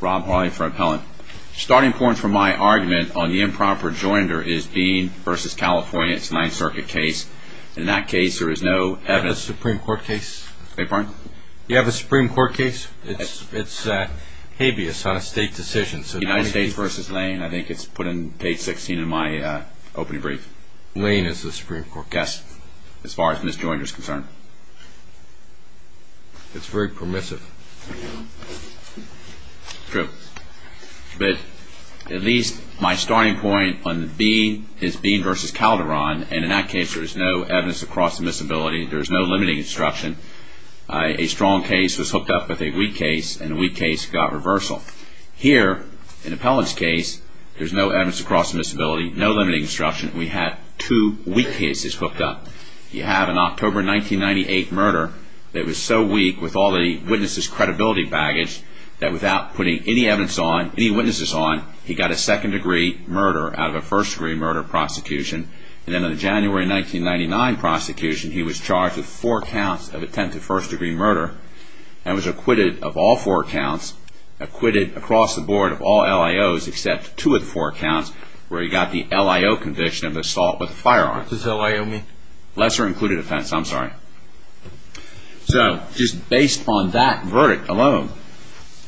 Rob Hawley for Appellant. Starting point for my argument on the improper joinder is Dean v. California, it's a 9th Circuit case. In that case there is no evidence. Do you have a Supreme Court case? I beg your pardon? Do you have a Supreme Court case? It's habeas on a state decision. United States v. Lane, I think it's put in page 16 of my opening brief. Lane is the Supreme Court case? Yes, as far as Ms. Joinder is concerned. It's very permissive. True. But at least my starting point on Dean is Dean v. Calderon, and in that case there is no evidence of cross admissibility. There is no limiting instruction. A strong case was hooked up with a weak case, and the weak case got reversal. Here, in Appellant's case, there is no evidence of cross admissibility, no limiting instruction. We had two weak cases hooked up. You have an October 1998 murder that was so weak with all the witnesses' credibility baggage that without putting any evidence on, any witnesses on, he got a second-degree murder out of a first-degree murder prosecution. And then in the January 1999 prosecution, he was charged with four counts of attempted first-degree murder and was acquitted of all four counts, acquitted across the board of all LIOs except two of the four counts where he got the LIO conviction of assault with a firearm. What does LIO mean? Lesser Included Offense. I'm sorry. So, just based on that verdict alone,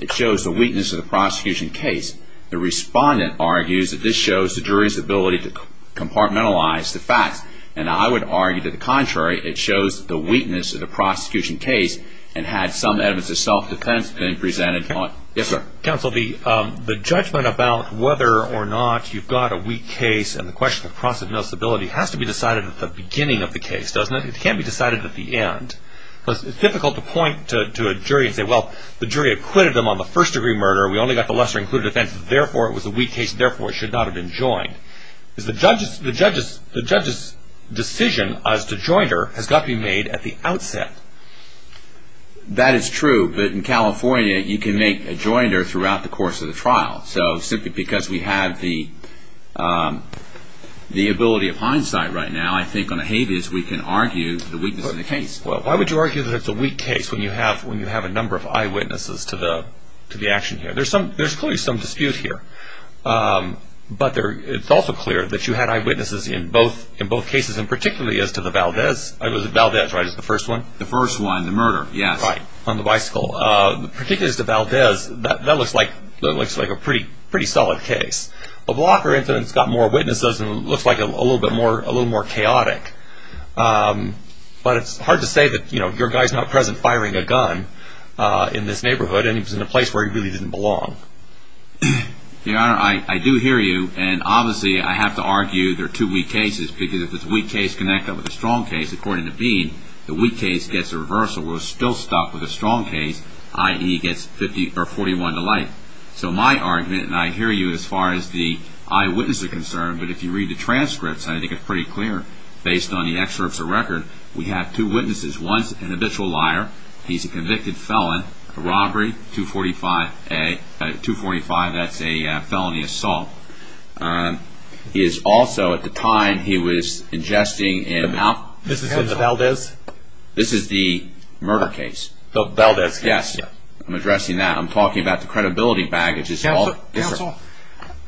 it shows the weakness of the prosecution case. The respondent argues that this shows the jury's ability to compartmentalize the facts, and I would argue that the contrary. It shows the weakness of the prosecution case, and had some evidence of self-defense been presented on... Yes, sir. Counsel, the judgment about whether or not you've got a weak case and the question of possibility has to be decided at the beginning of the case, doesn't it? It can't be decided at the end. It's difficult to point to a jury and say, well, the jury acquitted him on the first-degree murder. We only got the Lesser Included Offense. Therefore, it was a weak case. Therefore, it should not have been joined. The judge's decision as to joinder has got to be made at the outset. That is true, but in California, you can make a joinder throughout the course of the trial. Simply because we have the ability of hindsight right now, I think on a habeas, we can argue the weakness of the case. Why would you argue that it's a weak case when you have a number of eyewitnesses to the action here? There's clearly some dispute here, but it's also clear that you had eyewitnesses in both cases, and particularly as to the Valdez. It was the Valdez, right? It's the first one? The first one, the murder, yes. Right, on the bicycle. Particularly as to Valdez, that looks like a pretty solid case. A blocker incident's got more witnesses, and it looks like a little more chaotic. But it's hard to say that your guy's not present firing a gun in this neighborhood, and he was in a place where he really didn't belong. Your Honor, I do hear you, and obviously, I have to argue there are two weak cases, because if it's a weak case connected with a strong case, according to Bean, the weak case gets a reversal. We're still stuck with a strong case, i.e., gets 41 to life. So my argument, and I hear you as far as the eyewitnesses are concerned, but if you read the transcripts, I think it's pretty clear, based on the excerpts of record, we have two witnesses. One's an habitual liar. He's a convicted felon, a robbery, 245A, 245, that's a felony assault. He is also, at the time, he was ingesting an alcohol. This is Valdez? This is the murder case. The Valdez case. Yes. I'm addressing that. I'm talking about the credibility baggage. Counsel,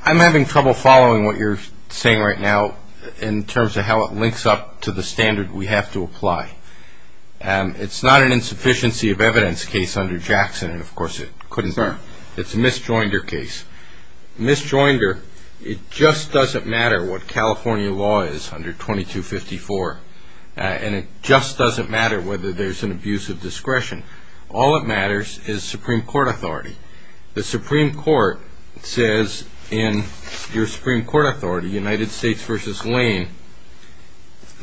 I'm having trouble following what you're saying right now in terms of how it links up to the standard we have to apply. It's not an insufficiency of evidence case under Jackson, and of course, it couldn't serve. It's a Miss Joinder case. Miss Joinder, it just doesn't matter what California law is under 2254, and it just doesn't matter whether there's an abuse of discretion. All that matters is Supreme Court authority. The Supreme Court says in your Supreme Court authority, United States v. Lane,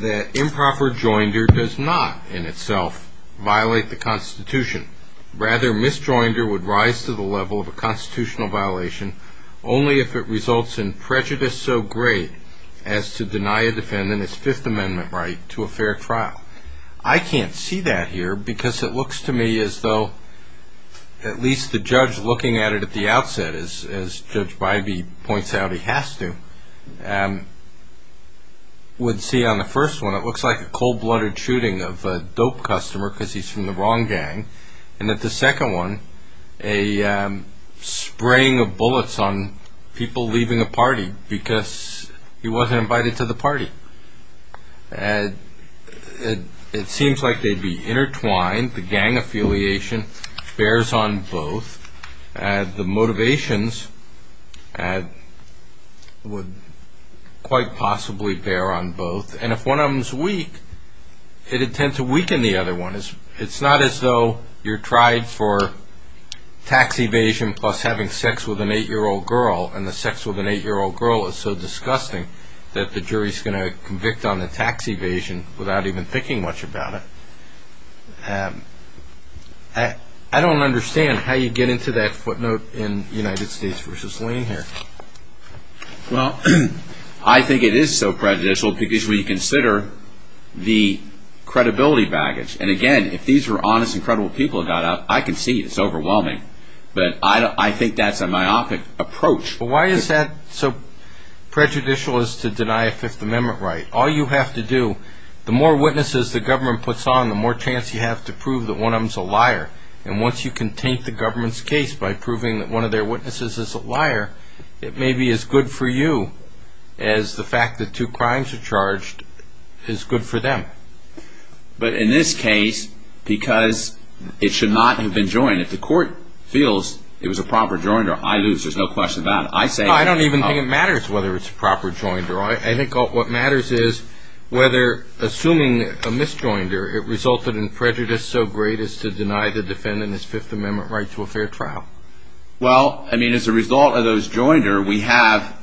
that improper joinder does not, in itself, violate the Constitution. Rather, Miss Joinder would rise to the level of a constitutional violation only if it results in prejudice so great as to deny a defendant his Fifth Amendment right to a fair trial. I can't see that here because it looks to me as though, at least the judge looking at it at the outset, as Judge Bybee points out he has to, would see on the first one, it looks like a cold-blooded shooting of a wrong gang, and at the second one, a spraying of bullets on people leaving a party because he wasn't invited to the party. It seems like they'd be intertwined. The gang affiliation bears on both. The motivations would quite possibly bear on both, and if one of them is weak, it'd tend to weaken the other one. It's not as though you're tried for tax evasion plus having sex with an eight-year-old girl, and the sex with an eight-year-old girl is so disgusting that the jury's going to convict on the tax evasion without even thinking much about it. I don't understand how you get into that footnote in United States v. Lane here. Well, I think it is so prejudicial because when you consider the credibility baggage, and again, if these were honest and credible people who got out, I can see it's overwhelming, but I think that's a myopic approach. Why is that so prejudicial as to deny a Fifth Amendment right? All you have to do, the more witnesses the government puts on, the more chance you have to prove that one of them's a liar, and once you can taint the government's case by proving that one of their witnesses is a liar, it may be as good for you as the fact that two crimes are charged is good for them. But in this case, because it should not have been joined, if the court feels it was a proper joinder, I lose. There's no question about it. I don't even think it matters whether it's a proper joinder. I think what matters is whether assuming a misjoinder, it resulted in prejudice so great as to deny the defendant his Fifth Amendment right to a fair trial. Well, I mean, as a result of those joinder, we have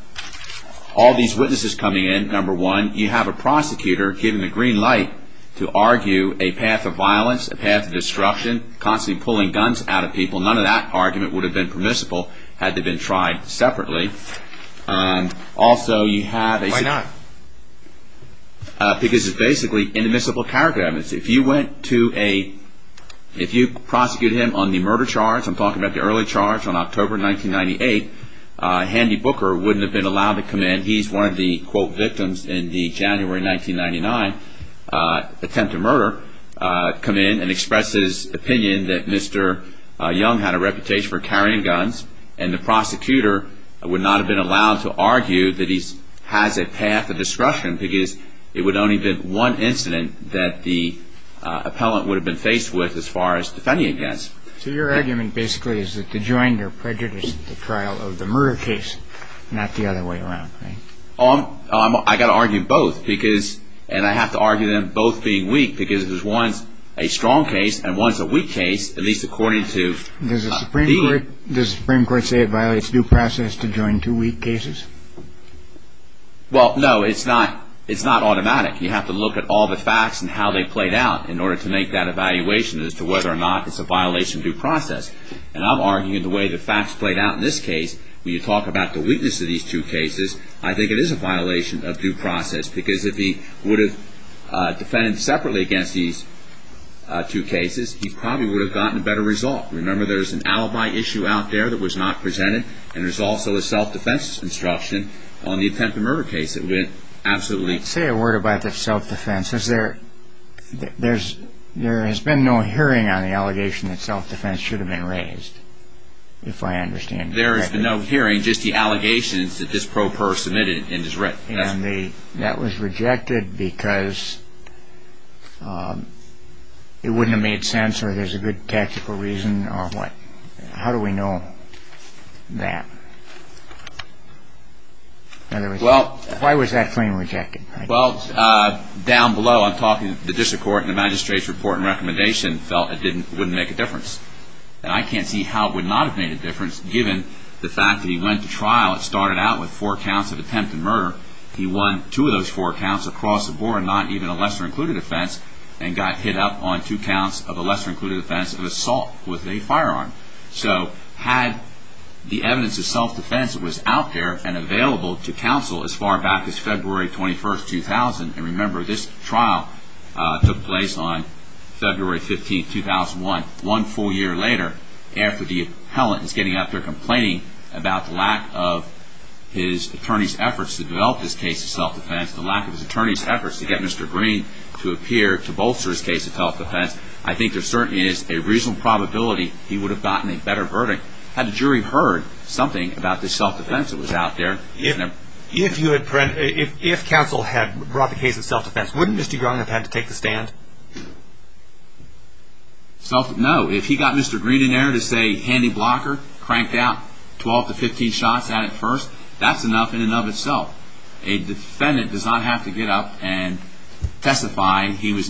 all these witnesses coming in. Number one, you have a prosecutor given the green light to argue a path of violence, a path of destruction, constantly pulling guns out of people. None of that argument would have been permissible had they been tried separately. Also, you have a... Why not? Because it's basically inadmissible character evidence. If you went to a... If you prosecuted him on the murder charge, I'm talking about the early charge on October 1998, Handy Booker wouldn't have been allowed to come in. He's one of the, quote, victims in the January 1999 attempt to murder, come in and express his opinion that Mr. Young had a reputation for carrying guns, and the prosecutor would not have been allowed to argue that he has a path of destruction because it would only have been one incident that the appellant would have been faced with as far as defending against. So your argument basically is that the joinder prejudiced the trial of the murder case, not the other way around, right? I got to argue both because... And I have to argue them both being weak because there's one's a strong case and one's a weak case, at least according to the Supreme Court. Does the Supreme Court say it violates due process to join two weak cases? Well, no. It's not automatic. You have to look at all the facts and how they played out in order to make that evaluation as to whether or not it's a violation of due process. And I'm arguing the way the facts played out in this case, when you talk about the weakness of these two cases, I think it is a violation of due process because if he would have defended separately against these two cases, he probably would have gotten a better result. Remember there's an alibi issue out there that was not presented, and there's also a self-defense instruction on the attempt to murder case that went absolutely... Let's say a word about the self-defense. There has been no hearing on the allegation that self-defense should have been raised, if I understand correctly. There has been no hearing, just the allegations that this pro per submitted and is written. That was rejected because it wouldn't have made sense or there's a good tactical reason or what? How do we know that? Why was that claim rejected? Well, down below, I'm talking to the district court and the magistrate's report and recommendation felt it wouldn't make a difference, and I can't see how it would not have made a difference given the fact that he went to trial, it started out with four counts of attempt to murder. He won two of those four counts across the board, not even a lesser-included offense, and got hit up on two counts of a lesser-included offense of assault with a firearm. So had the evidence of self-defense was out there and available to counsel as far back as February 21st, 2000, and remember this trial took place on February 15th, 2001, one full year later, after the appellant is getting up there complaining about the lack of his attorney's efforts to develop this case of self-defense, the lack of his attorney's efforts to get Mr. Green to appear to bolster his case of self-defense, I think there certainly is a reasonable probability he would have gotten a better verdict had the jury heard something about this self-defense that was out there. If counsel had brought the case of self-defense, wouldn't Mr. Green have had to take the stand? No, if he got Mr. Green in there to say, handy blocker, cranked out 12 to 15 shots at it first, that's enough in and of itself. A defendant does not have to get up and testify he was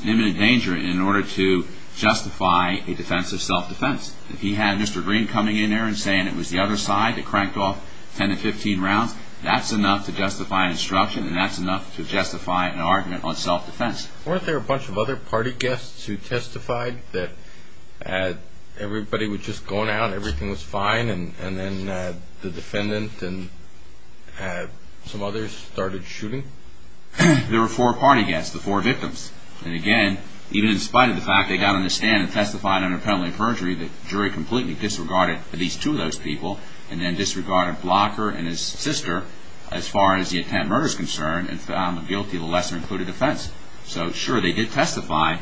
a defense of self-defense. If he had Mr. Green coming in there and saying it was the other side that cranked off 10 to 15 rounds, that's enough to justify an instruction and that's enough to justify an argument on self-defense. Weren't there a bunch of other party guests who testified that everybody was just going out, everything was fine, and then the defendant and some others started shooting? There were four party guests, the four victims. And again, even in spite of the fact they got on the stand and testified under penalty of perjury, the jury completely disregarded at least two of those people, and then disregarded Blocker and his sister as far as the attempt murder is concerned, and found guilty of a lesser included offense. So sure, they did testify.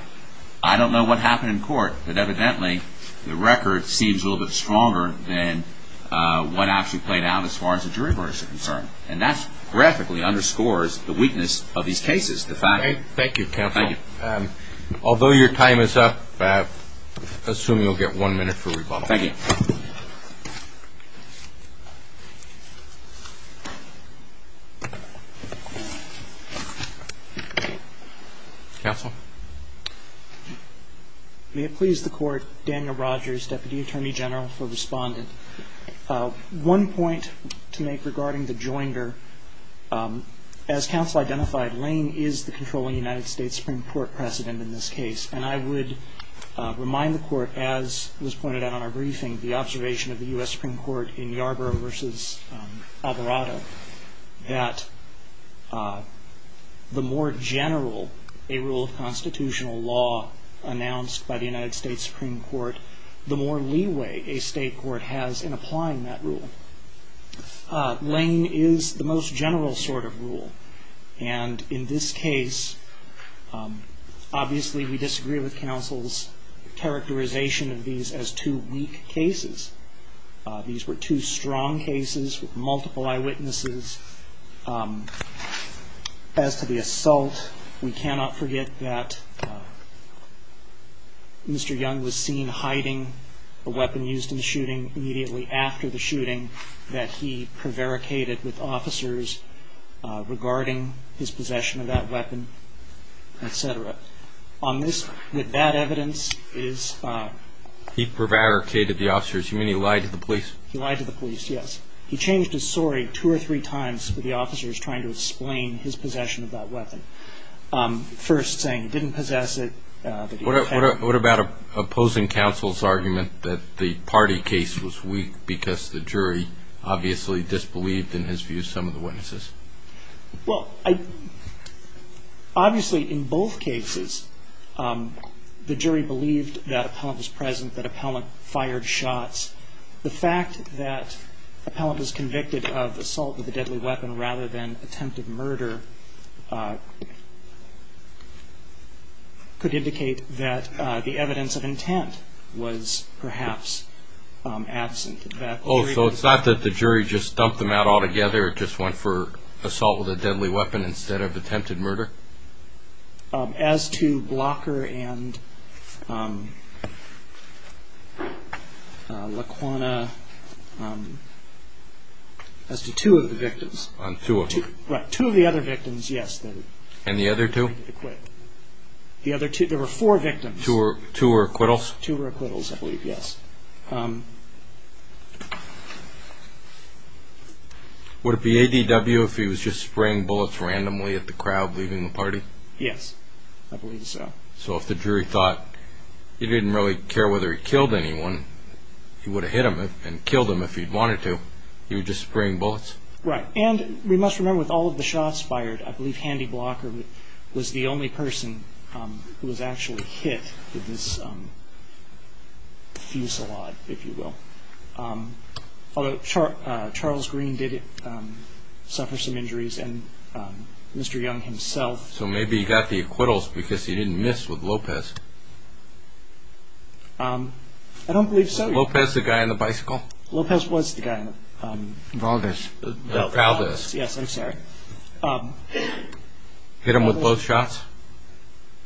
I don't know what happened in court, but evidently the record seems a little bit stronger than what actually played out as far as the jury murder is concerned. And that graphically underscores the weakness of these cases. Thank you, counsel. Although your time is up, I assume you'll get one minute for rebuttal. Thank you. Counsel? May it please the Court, Daniel Rogers, Deputy Attorney General for Respondent. One point to make regarding the joinder. As counsel identified, Lane is the controlling United States Supreme Court precedent in this case. And I would remind the Court, as was pointed out on our briefing, the observation of the U.S. Supreme Court in Yarborough v. Alvarado, that the more general a rule of constitutional law announced by the United States Supreme Court, the more leeway a state court has in applying that rule. Lane is the most general sort of rule. And in this case, obviously we disagree with counsel's characterization of these as two weak cases. These were two strong cases with multiple eyewitnesses. As to the assault, we cannot forget that Mr. Young was seen hiding a weapon used in the shooting immediately after the shooting, that he prevaricated with officers regarding his possession of that weapon, et cetera. On this, with that evidence, is... He prevaricated the officers. You mean he lied to the police? He lied to the police, yes. He changed his story two or three times with the officers trying to explain his possession of that weapon. First saying he didn't possess it. What about opposing counsel's argument that the party case was weak because the jury obviously disbelieved, in his view, some of the witnesses? Well, obviously in both cases, the jury believed that an appellant was present, that an appellant was present, that an appellant was convicted of assault with a deadly weapon rather than attempted murder could indicate that the evidence of intent was perhaps absent, that the jury... Oh, so it's not that the jury just dumped them out altogether, just went for assault with a deadly weapon instead of attempted murder? As to Blocker and Laquanna, as to two of the victims. On two of them? Right, two of the other victims, yes. And the other two? The other two, there were four victims. Two were acquittals? Two were acquittals, I believe, yes. Would it be ADW if he was just spraying bullets randomly at the crowd leaving the party? Yes, I believe so. So if the jury thought he didn't really care whether he killed anyone, he would have hit them and killed them if he wanted to, he was just spraying bullets? Right, and we must remember with all of the shots fired, I believe Handy Blocker was the only person who was actually hit with this fusillade, if you will, although Charles Green did suffer some injuries and Mr. Young himself. So maybe he got the acquittals because he didn't miss with Lopez? I don't believe so. Was Lopez the guy on the bicycle? Lopez was the guy on the... Valdez, yes, I'm sorry. Hit him with both shots?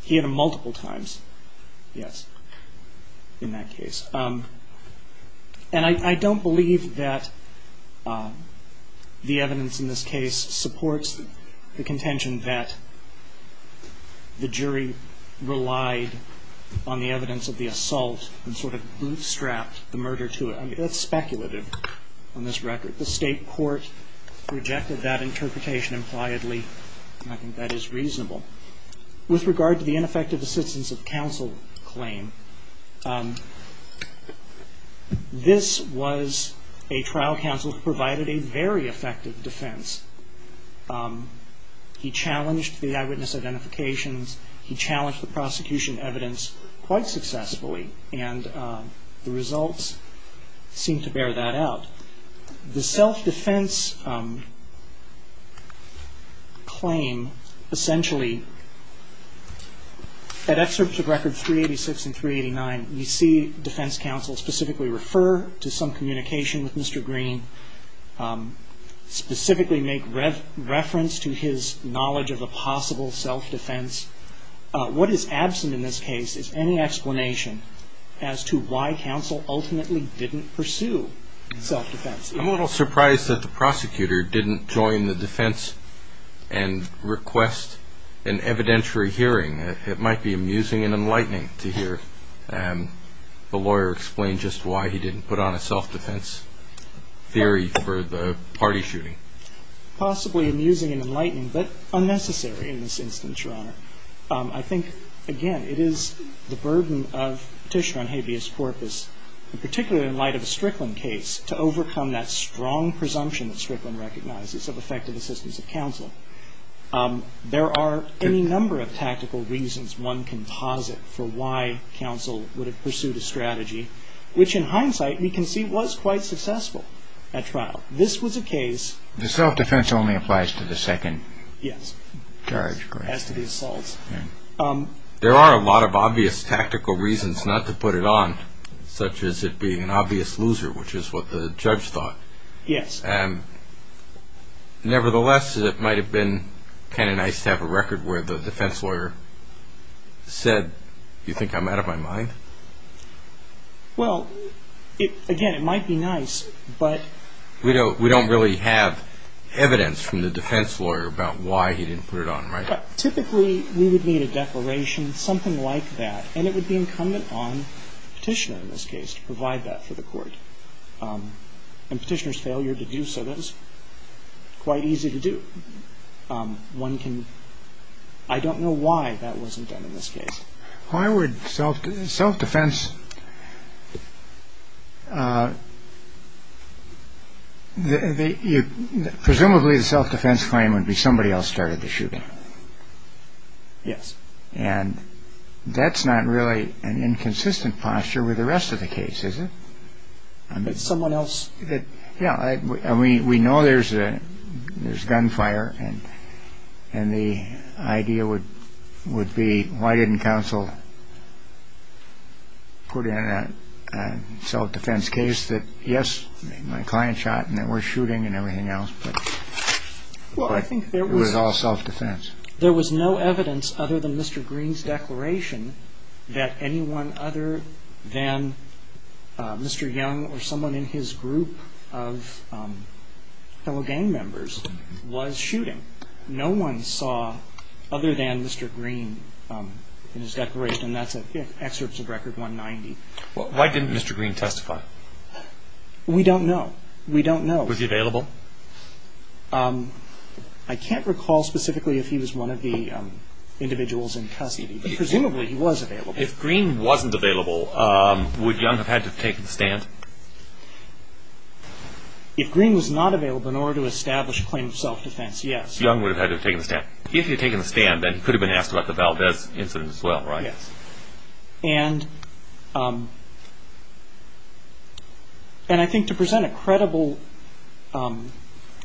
He hit him multiple times, yes, in that case. And I don't believe that the evidence in this case supports the contention that the jury relied on the evidence of the assault and sort of bootstrapped the murder to it. I mean, that's speculative on this record. The state court rejected that interpretation impliedly and I think that is reasonable. With regard to the ineffective assistance of counsel claim, this was a trial counsel who provided a very effective defense. He challenged the eyewitness identifications, he challenged the prosecution evidence quite successfully and the results seemed to bear that out. The self-defense claim essentially, at excerpts of record 386 and 389, we see defense counsel specifically refer to some communication with Mr. Green, specifically make reference to his knowledge of a possible self-defense. What is absent in this case is any explanation as to why counsel ultimately didn't pursue self-defense. I'm a little surprised that the prosecutor didn't join the defense and request an evidentiary hearing. It might be amusing and enlightening to hear the lawyer explain just why he didn't put on a self-defense theory for the party shooting. Possibly amusing and enlightening, but unnecessary in this instance, Your Honor. I think, again, it is the burden of petition on habeas corpus, and particularly in light of the Strickland case, to overcome that strong presumption that Strickland recognizes of effective assistance of counsel. There are any number of tactical reasons one can posit for why counsel would have pursued a strategy, which in hindsight we can see was quite successful at trial. This was a case- The self-defense only applies to the second charge, correct? Yes, as to the assaults. There are a lot of obvious tactical reasons not to put it on, such as it being an obvious loser, which is what the judge thought. Yes. Nevertheless, it might have been kind of nice to have a record where the defense lawyer said, you think I'm out of my mind? Well, again, it might be nice, but- We don't really have evidence from the defense lawyer about why he didn't put it on, right? Typically, we would need a declaration, something like that, and it would be incumbent on the petitioner, in this case, to provide that for the court. A petitioner's failure to do so, that is quite easy to do. One can- I don't know why that wasn't done in this case. Why would self-defense- Presumably, the self-defense claim would be somebody else started the shooting. Yes. And that's not really an inconsistent posture with the rest of the case, is it? Someone else- Yeah. We know there's gunfire, and the idea would be, why didn't counsel put in a self-defense case that, yes, my client shot, and there was shooting and everything else, but it was all self-defense. There was no evidence other than Mr. Green's declaration that anyone other than Mr. Young or someone in his group of fellow gang members was shooting. No one saw other than Mr. Green in his declaration. That's an excerpt of Record 190. Why didn't Mr. Green testify? We don't know. We don't know. Was he available? I can't recall specifically if he was one of the individuals in custody, but presumably he was available. If Green wasn't available, would Young have had to have taken the stand? If Green was not available in order to establish a claim of self-defense, yes. Young would have had to have taken the stand. If he had taken the stand, then he could have been asked about the Valdez incident as well, right? Yes. And I think to present a credible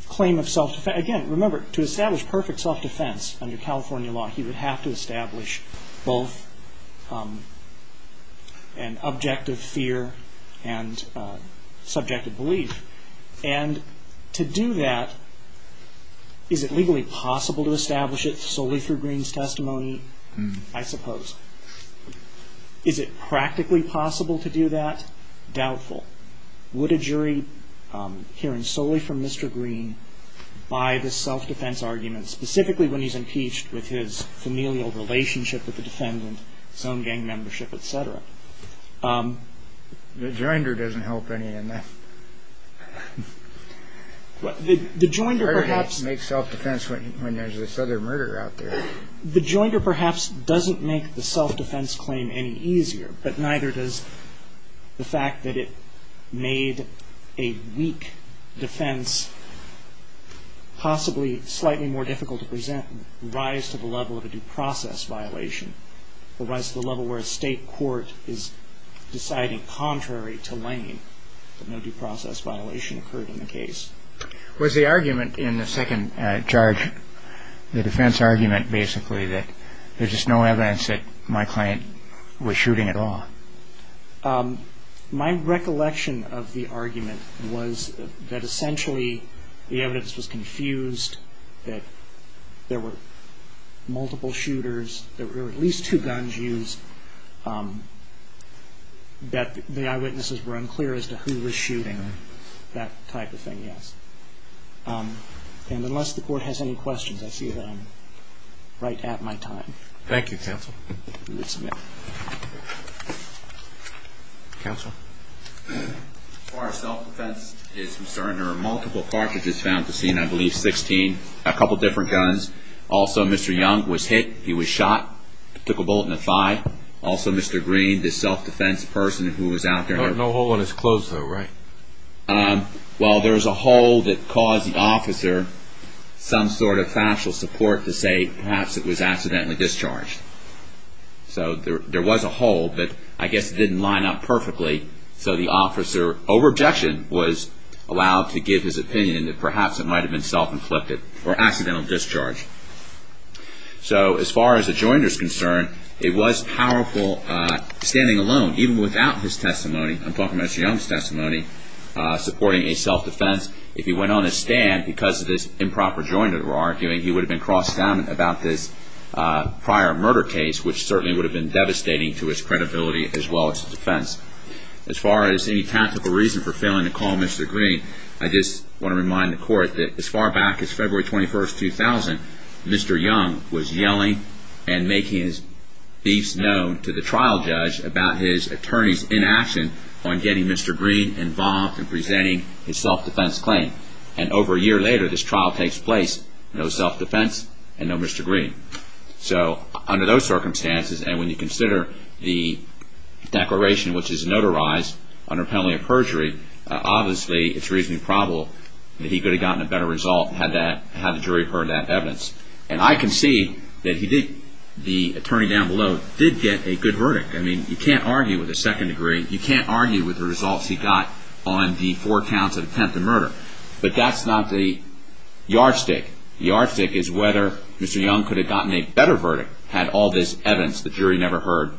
claim of self-defense... Again, remember, to establish perfect self-defense under California law, he would have to establish both an objective fear and subjective belief. And to do that, is it legally possible to establish it solely through Green's testimony? I suppose. Is it practically possible to do that? Doubtful. Would a jury hearing solely from Mr. Green buy this self-defense argument, specifically when he's impeached with his familial relationship with the defendant, his own gang membership, et cetera? The joinder doesn't help any in that. The joinder perhaps... How do you make self-defense when there's this other murderer out there? The joinder perhaps doesn't make the self-defense claim any easier, but neither does the fact that it made a weak defense possibly slightly more difficult to present, rise to the level of a due process violation, or rise to the level where a state court is deciding contrary to Lane that no due process violation occurred in the case. Was the argument in the second charge, the defense argument basically, that there's just no evidence that my client was shooting at all? My recollection of the argument was that essentially the evidence was confused, that there were multiple shooters, that there were at least two guns used, that the eyewitnesses were unclear as to who was shooting, that type of thing, yes. And unless the court has any questions, I see that I'm right at my time. Thank you, counsel. We will submit. Counsel? As far as self-defense is concerned, there are multiple cartridges found at the scene, I believe 16, a couple different guns. Also Mr. Young was hit, he was shot, took a bullet in the thigh. Also Mr. Green, the self-defense person who was out there. No hole in his clothes though, right? Well, there's a hole that caused the officer some sort of factual support to say perhaps it was accidentally discharged. So there was a hole, but I guess it didn't line up perfectly, so the officer, over objection, was allowed to give his opinion that perhaps it might have been self-inflicted or accidental discharge. So as far as the jointer is concerned, it was powerful standing alone, even without his testimony, I'm talking about Mr. Young's testimony, supporting a self-defense. If he went on a stand because of this improper jointer arguing, he would have been crossed out about this prior murder case, which certainly would have been devastating to his credibility as well as his defense. As far as any tactical reason for failing to call Mr. Green, I just want to remind the court that as far back as February 21, 2000, Mr. Young was yelling and making his beefs known to the trial judge about his attorney's inaction on getting Mr. Green involved in presenting his self-defense claim. And over a year later, this trial takes place, no self-defense and no Mr. Green. So under those circumstances, and when you consider the declaration, which is notarized under penalty of perjury, obviously it's reasonably probable that he could have gotten a better result had the jury heard that evidence. And I can see that the attorney down below did get a good verdict. I mean, you can't argue with a second degree. You can't argue with the results he got on the four counts of attempted murder. But that's not the yardstick. The yardstick is whether Mr. Young could have gotten a better verdict had all this evidence the jury never heard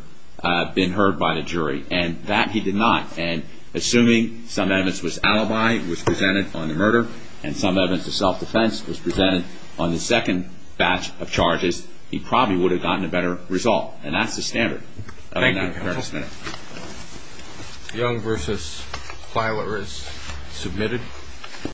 been heard by the jury. And that he did not. And assuming some evidence was alibi, was presented on the murder, and some evidence of self-defense was presented on the second batch of charges, he probably would have gotten a better result. And that's the standard. Thank you, counsel. Young v. Filer is submitted.